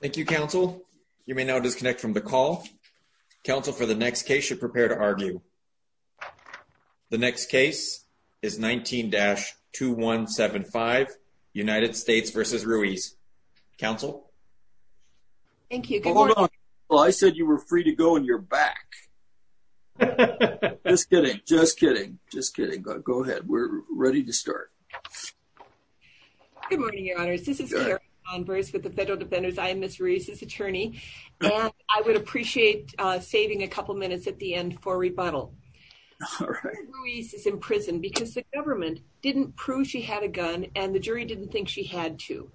Thank you, Counsel. You may now disconnect from the call. Counsel, for the next case, you're prepared to argue. The next case is 19-2175, United States v. Ruiz. Counsel? Thank you. Good morning. Well, I said you were free to go and you're back. Just kidding. Just kidding. Just kidding. Go ahead. We're ready to start. Good morning, Your Honors. This is Karen Converse with the Federal Defenders. I am Ms. Ruiz's attorney, and I would appreciate saving a couple minutes at the end for rebuttal. Ms. Ruiz is in prison because the government didn't prove she had a gun and the jury didn't think she had to.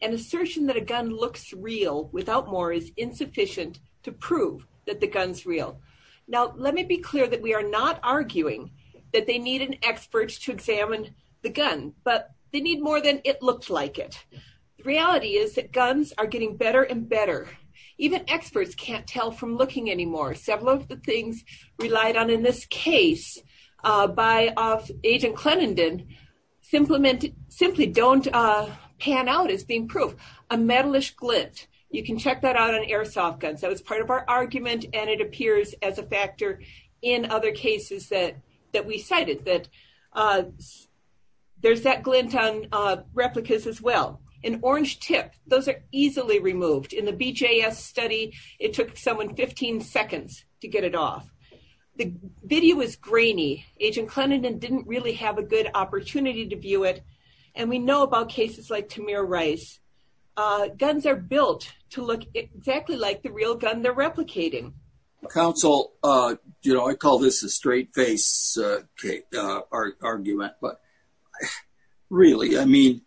An assertion that a gun looks real without more is insufficient to prove that the gun's real. Now, let me be clear that we are not arguing that they need an expert to examine the gun, but they need more than it looks like it. The reality is that guns are getting better and better. Even experts can't tell from looking anymore. Several of the things relied on in this case by Agent Clenenden simply don't pan out as being proof. A metal-ish glint. You can check that out on airsoft guns. That was part of our argument, and it appears as a factor in other cases that we cited that there's that glint on replicas as well. An orange tip. Those are easily removed. In the BJS study, it took someone 15 seconds to get it off. The video is grainy. Agent Clenenden didn't really have a good opportunity to view it. And we know about cases like Tamir Rice. Guns are built to look exactly like the real gun they're replicating. Counsel, you know, I call this a straight-face argument, but really, I mean,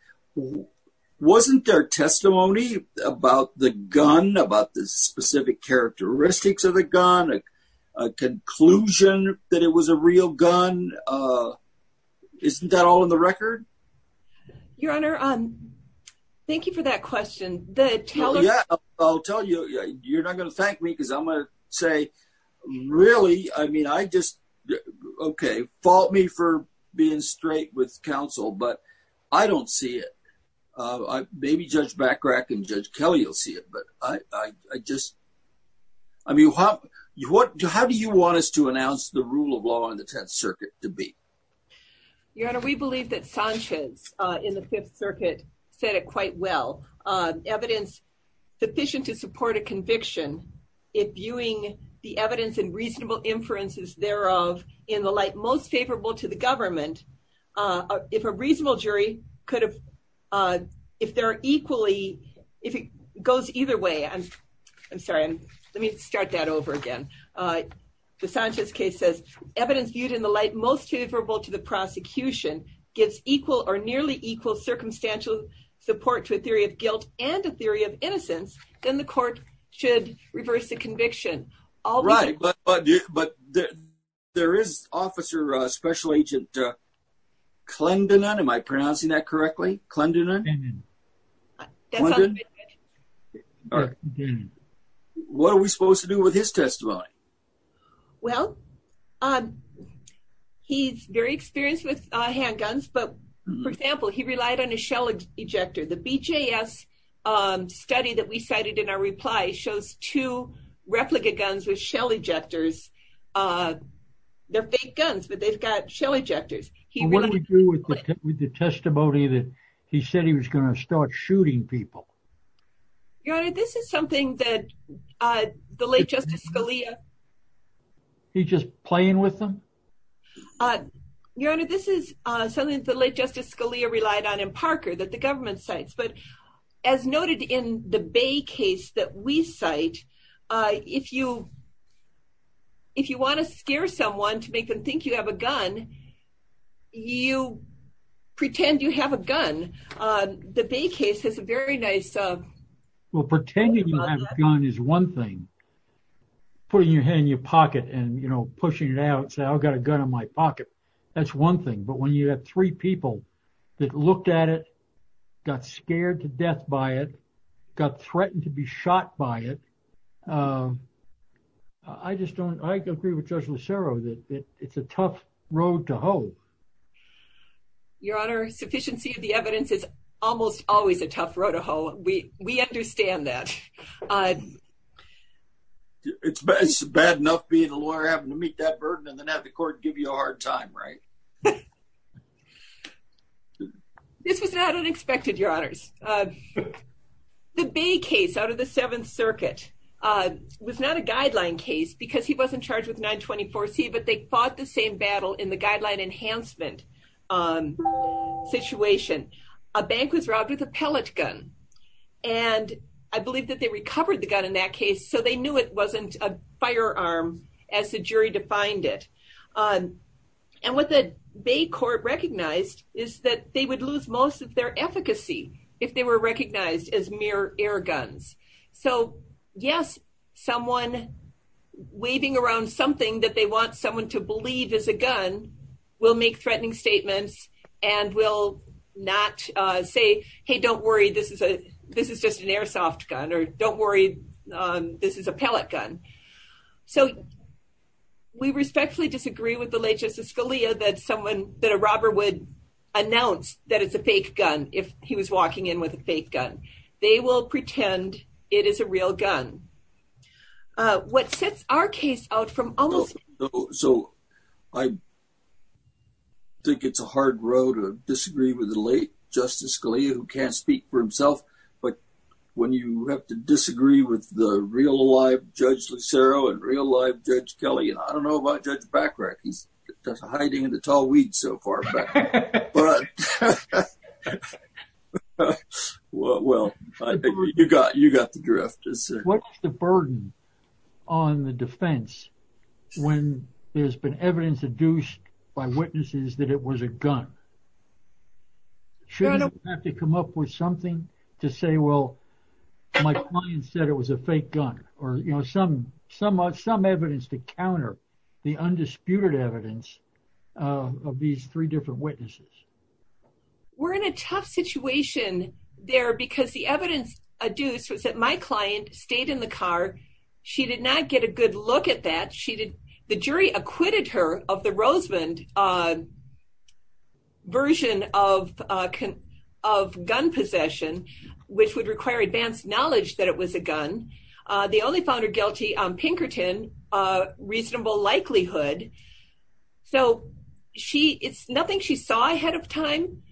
wasn't there testimony about the gun, about the specific characteristics of the gun, a conclusion that it was a real gun? Isn't that all in the record? Your Honor, thank you for that question. I'll tell you, you're not going to thank me, because I'm going to say, really? I mean, I just, okay, fault me for being straight with counsel, but I don't see it. Maybe Judge Bacrac and Judge Kelly will see it, but I just, I mean, how do you want us to announce the rule of law in the Tenth Circuit? Your Honor, we believe that Sanchez in the Fifth Circuit said it quite well. Evidence sufficient to support a conviction, if viewing the evidence and reasonable inferences thereof in the light most favorable to the government, if a reasonable jury could have, if there are equally, if it goes either way, I'm sorry, let me start that over again. The Sanchez case says, evidence viewed in the light most favorable to the prosecution gives equal or nearly equal circumstantial support to a theory of guilt and a theory of innocence, then the court should reverse the conviction. Right, but there is Officer Special Agent Clendenin, am I pronouncing that correctly? What are we supposed to do with his testimony? Well, he's very experienced with handguns, but for example, he relied on a shell ejector. The BJS study that we cited in our reply shows two replica guns with shell ejectors. They're fake guns, but they've got shell ejectors. What do we do with the testimony that he said he was going to start shooting people? Your Honor, this is something that the late Justice Scalia... He's just playing with them? Your Honor, this is something that the late Justice Scalia relied on in Parker that the government cites, but as noted in the Bay case that we cite, if you want to scare someone to make them think you have a gun, you pretend you have a gun. The Bay case has a very nice... Well, pretending you have a gun is one thing. Putting your hand in your pocket and, you know, pushing it out and say, I've got a gun in my pocket. That's one thing. But when you have three people that looked at it, got scared to death by it, got threatened to be shot by it, I just don't... I agree with Judge Lucero that it's a tough road to hoe. Your Honor, sufficiency of the evidence is almost always a tough road to hoe. We understand that. It's bad enough being a lawyer, having to meet that burden, and then have the court give you a hard time, right? This was not unexpected, Your Honors. The Bay case out of the Seventh Circuit was not a guideline case because he wasn't charged with 924C, but they fought the same battle in the guideline enhancement situation. A bank was robbed with a pellet gun, and I believe that they recovered the gun in that case, so they knew it wasn't a firearm as the jury defined it. And what the Bay court recognized is that they would lose most of their efficacy if they were recognized as mere air guns. So, yes, someone waving around something that they want someone to believe is a gun will make threatening statements and will not say, hey, don't worry, this is just an airsoft gun, or don't worry, this is a pellet gun. So, we respectfully disagree with the late Justice Scalia that a robber would announce that it's a fake gun if he was walking in with a fake gun. They will pretend it is a real gun. So, I think it's a hard road to disagree with the late Justice Scalia who can't speak for himself. But when you have to disagree with the real, alive Judge Lucero and real, alive Judge Kelly, and I don't know about Judge Bacharach, he's hiding in the tall weeds so far. But, well, you got the drift. What is the burden on the defense when there's been evidence adduced by witnesses that it was a gun? Shouldn't they have to come up with something to say, well, my client said it was a fake gun? Or, you know, some evidence to counter the undisputed evidence of these three different witnesses. We're in a tough situation there because the evidence adduced was that my client stayed in the car. She did not get a good look at that. The jury acquitted her of the Rosemond version of gun possession, which would require advanced knowledge that it was a gun. They only found her guilty on Pinkerton, reasonable likelihood. So she, it's nothing she saw ahead of time.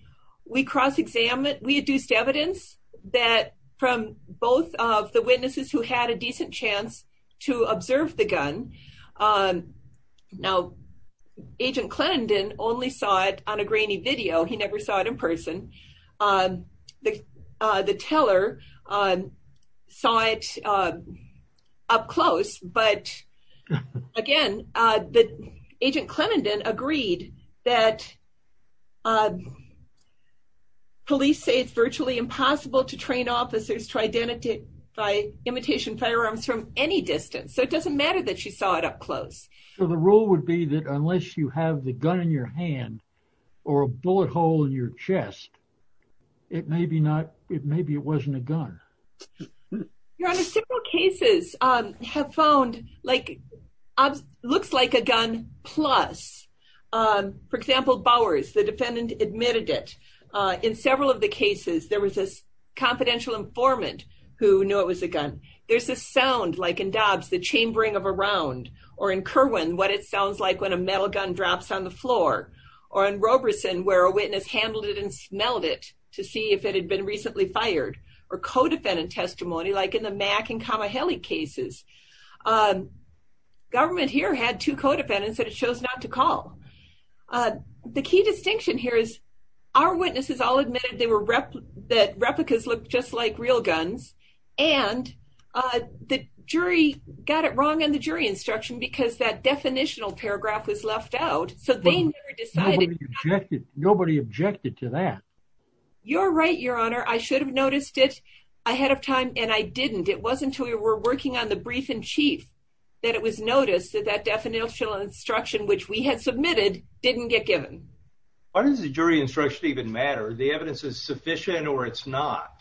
We cross-examined, we adduced evidence that from both of the witnesses who had a decent chance to observe the gun. Now, Agent Clendon only saw it on a grainy video. He never saw it in person. The teller saw it up close. But again, Agent Clendon agreed that police say it's virtually impossible to train officers to identify imitation firearms from any distance. So it doesn't matter that she saw it up close. So the rule would be that unless you have the gun in your hand or a bullet hole in your chest, it may be not, maybe it wasn't a gun. Your Honor, several cases have found, like, looks like a gun plus. For example, Bowers, the defendant admitted it. In several of the cases, there was this confidential informant who knew it was a gun. There's a sound, like in Dobbs, the chambering of a round. Or in Kerwin, what it sounds like when a metal gun drops on the floor. Or in Roberson, where a witness handled it and smelled it to see if it had been recently fired. Or co-defendant testimony, like in the Mack and Kamaheli cases. Government here had two co-defendants that it chose not to call. The key distinction here is our witnesses all admitted that replicas looked just like real guns. And the jury got it wrong on the jury instruction because that definitional paragraph was left out. So they never decided. Nobody objected to that. You're right, Your Honor. I should have noticed it ahead of time, and I didn't. It wasn't until we were working on the brief-in-chief that it was noticed that that definitional instruction, which we had submitted, didn't get given. Why does the jury instruction even matter? The evidence is sufficient or it's not.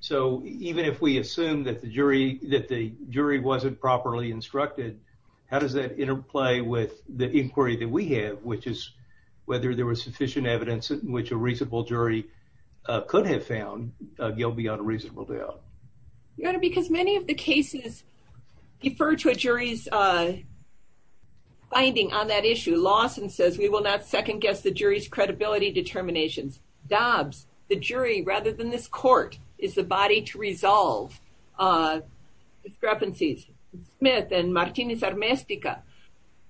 So even if we assume that the jury wasn't properly instructed, how does that interplay with the inquiry that we have, which is whether there was sufficient evidence in which a reasonable jury could have found Gilby on a reasonable doubt? Your Honor, because many of the cases refer to a jury's finding on that issue. Lawson says, we will not second-guess the jury's credibility determinations. Dobbs, the jury rather than this court, is the body to resolve discrepancies. Smith and Martinez-Armestica,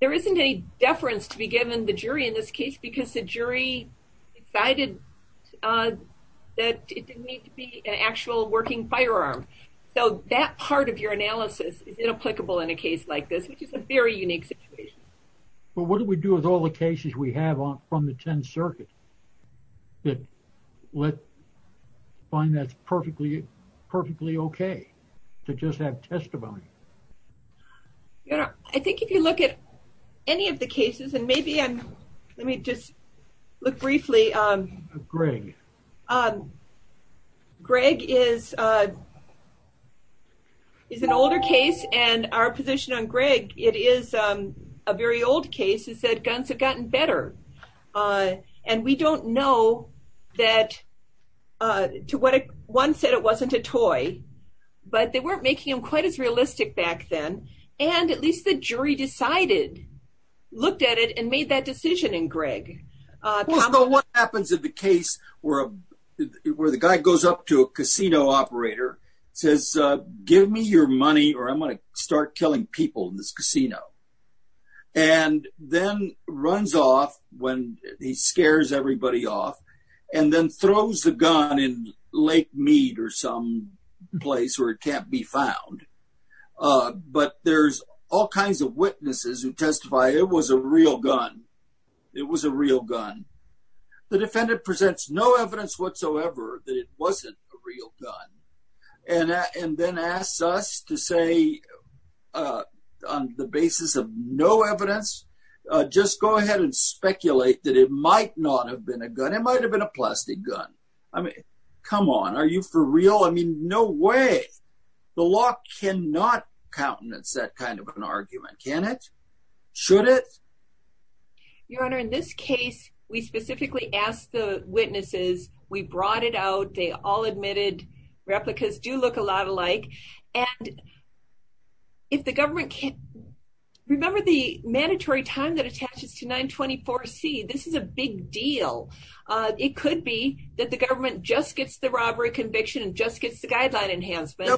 there isn't a deference to be given the jury in this case because the jury decided that it didn't need to be an actual working firearm. So that part of your analysis is inapplicable in a case like this, which is a very unique situation. But what do we do with all the cases we have from the Tenth Circuit that find that's perfectly okay to just have testimony? Your Honor, I think if you look at any of the cases, and maybe I'm, let me just look briefly. Greg. Greg is an older case, and our position on Greg, it is a very old case, is that guns have gotten better. And we don't know that to what, one said it wasn't a toy, but they weren't making them quite as realistic back then. And at least the jury decided, looked at it and made that decision in Greg. Well, what happens in the case where the guy goes up to a casino operator, says, give me your money or I'm going to start killing people in this casino. And then runs off when he scares everybody off, and then throws the gun in Lake Mead or some place where it can't be found. But there's all kinds of witnesses who testify it was a real gun. It was a real gun. The defendant presents no evidence whatsoever that it wasn't a real gun. And then asks us to say, on the basis of no evidence, just go ahead and speculate that it might not have been a gun. It might have been a plastic gun. I mean, come on. Are you for real? I mean, no way. The law cannot countenance that kind of an argument. Can it? Should it? Your Honor, in this case, we specifically asked the witnesses. We brought it out. They all admitted replicas do look a lot alike. And if the government can't remember the mandatory time that attaches to 924 C, this is a big deal. It could be that the government just gets the robbery conviction and just gets the guideline enhancement.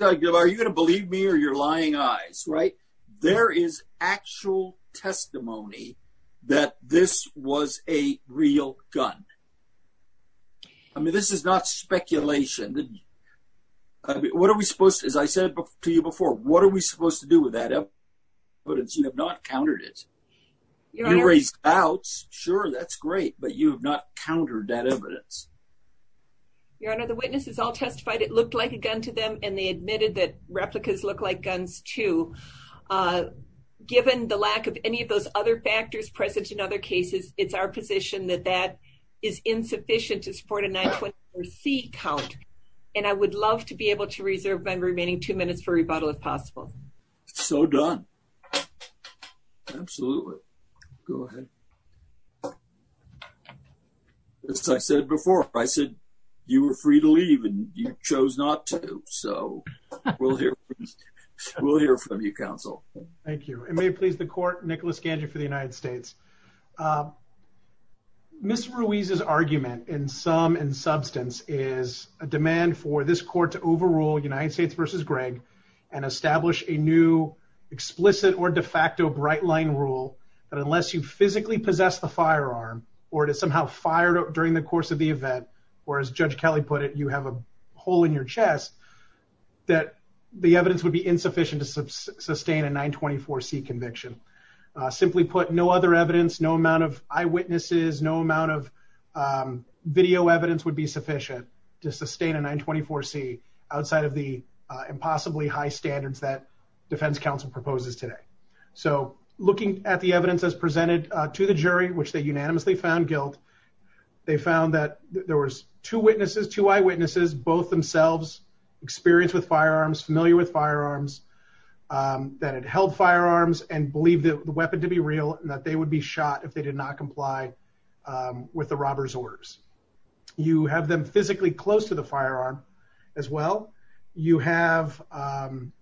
Are you going to believe me or your lying eyes, right? There is actual testimony that this was a real gun. I mean, this is not speculation. What are we supposed to do? As I said to you before, what are we supposed to do with that evidence? You have not countered it. You raised doubts. Sure, that's great. But you have not countered that evidence. Your Honor, the witnesses all testified it looked like a gun to them, and they admitted that replicas look like guns too. Given the lack of any of those other factors present in other cases, it's our position that that is insufficient to support a 924 C count. And I would love to be able to reserve my remaining two minutes for rebuttal if possible. So done. Absolutely. Go ahead. As I said before, I said you were free to leave, and you chose not to. So we'll hear from you, counsel. Thank you. And may it please the court, Nicholas Ganja for the United States. Ms. Ruiz's argument, in sum and substance, is a demand for this court to overrule United States v. Greg and establish a new explicit or de facto bright line rule that unless you physically possess the firearm or it is somehow fired during the course of the event, or as Judge Kelly put it, you have a hole in your chest, that the evidence would be insufficient to sustain a 924 C conviction. Simply put, no other evidence, no amount of eyewitnesses, no amount of video evidence would be sufficient to sustain a 924 C outside of the impossibly high standards that defense counsel proposes today. So looking at the evidence as presented to the jury, which they unanimously found guilt, they found that there was two eyewitnesses, both themselves experienced with firearms, familiar with firearms, that had held firearms and believed the weapon to be real and that they would be shot if they did not comply with the robber's orders. You have them physically close to the firearm as well. You have an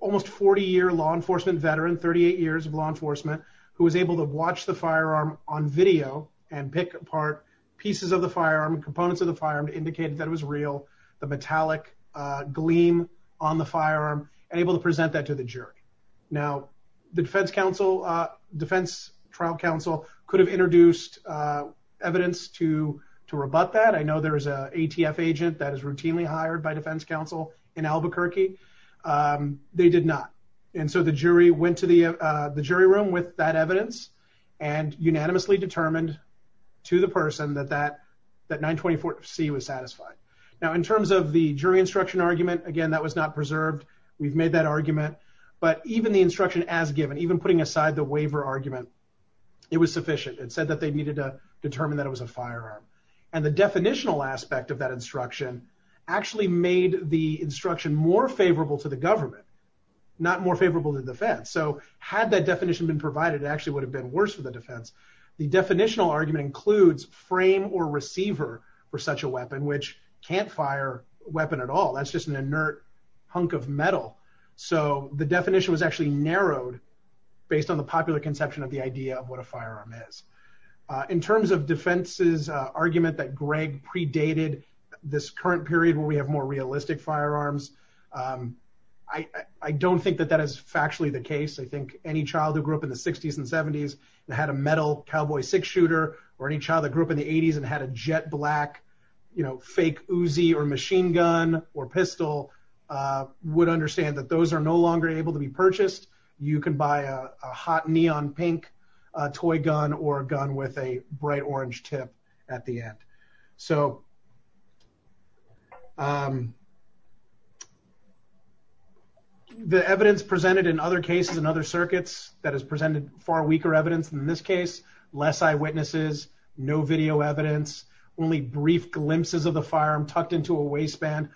almost 40-year law enforcement veteran, 38 years of law enforcement, who was able to watch the firearm on video and pick apart pieces of the firearm, components of the firearm to indicate that it was real, the metallic gleam on the firearm, and able to present that to the jury. Now, the defense trial counsel could have introduced evidence to rebut that. I know there is an ATF agent that is routinely hired by defense counsel in Albuquerque. They did not. And so the jury went to the jury room with that evidence and unanimously determined to the person that that 924 C was satisfied. Now, in terms of the jury instruction argument, again, that was not preserved. We've made that argument. But even the instruction as given, even putting aside the waiver argument, it was sufficient. It said that they needed to determine that it was a firearm. And the definitional aspect of that instruction actually made the instruction more favorable to the government, not more favorable to the defense. So had that definition been provided, it actually would have been worse for the defense. The definitional argument includes frame or receiver for such a weapon, which can't fire a weapon at all. That's just an inert hunk of metal. So the definition was actually narrowed based on the popular conception of the idea of what a firearm is. In terms of defense's argument that Greg predated this current period where we have more realistic firearms, I don't think that that is factually the case. I think any child who grew up in the 60s and 70s and had a metal Cowboy Six shooter or any child that grew up in the 80s and had a jet black, you know, fake Uzi or machine gun or pistol would understand that those are no longer able to be purchased. You can buy a hot neon pink toy gun or a gun with a bright orange tip at the end. So the evidence presented in other cases and other circuits that has presented far weaker evidence in this case, less eyewitnesses, no video evidence, only brief glimpses of the firearm tucked into a waistband.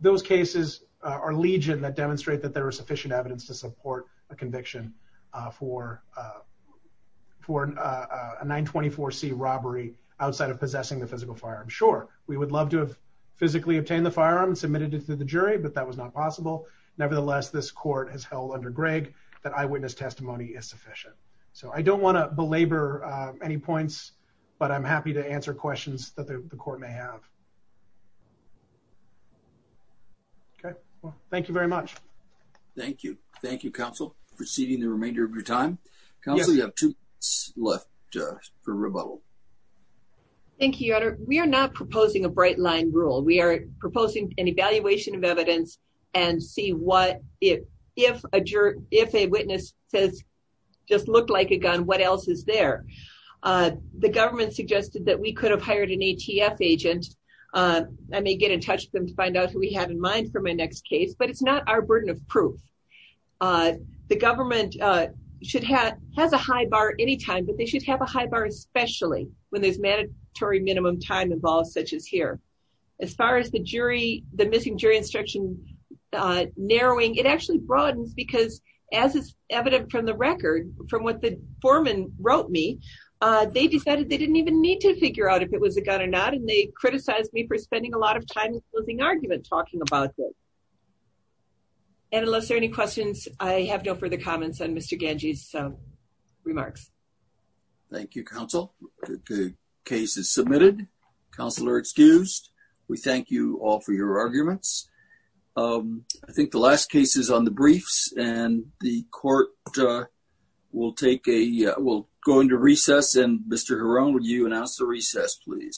Those cases are legion that demonstrate that there is sufficient evidence to support a conviction for a 924c robbery outside of possessing the physical firearm. Sure, we would love to have physically obtained the firearm and submitted it to the jury, but that was not possible. Nevertheless, this court has held under Greg that eyewitness testimony is sufficient. So I don't want to belabor any points, but I'm happy to answer questions that the court may have. Okay, well, thank you very much. Thank you. Thank you, counsel, proceeding the remainder of your time. Council, you have two left for rebuttal. Thank you, Your Honor. We are not proposing a bright line rule. We are proposing an evaluation of evidence and see what if a witness says, just looked like a gun, what else is there? The government suggested that we could have hired an ATF agent. I may get in touch with them to find out who we have in mind for my next case, but it's not our burden of proof. The government should have has a high bar anytime, but they should have a high bar, especially when there's mandatory minimum time involved, such as here. As far as the jury, the missing jury instruction narrowing, it actually broadens because as is evident from the record from what the foreman wrote me, they decided they didn't even need to figure out if it was a gun or not. And they criticized me for spending a lot of time in closing argument talking about this. And unless there are any questions, I have no further comments on Mr. Ganji's remarks. Thank you, counsel. The case is submitted. Counselor excused. We thank you all for your arguments. I think the last case is on the briefs and the court will take a will go into recess. And Mr. Huron, would you announce the recess, please?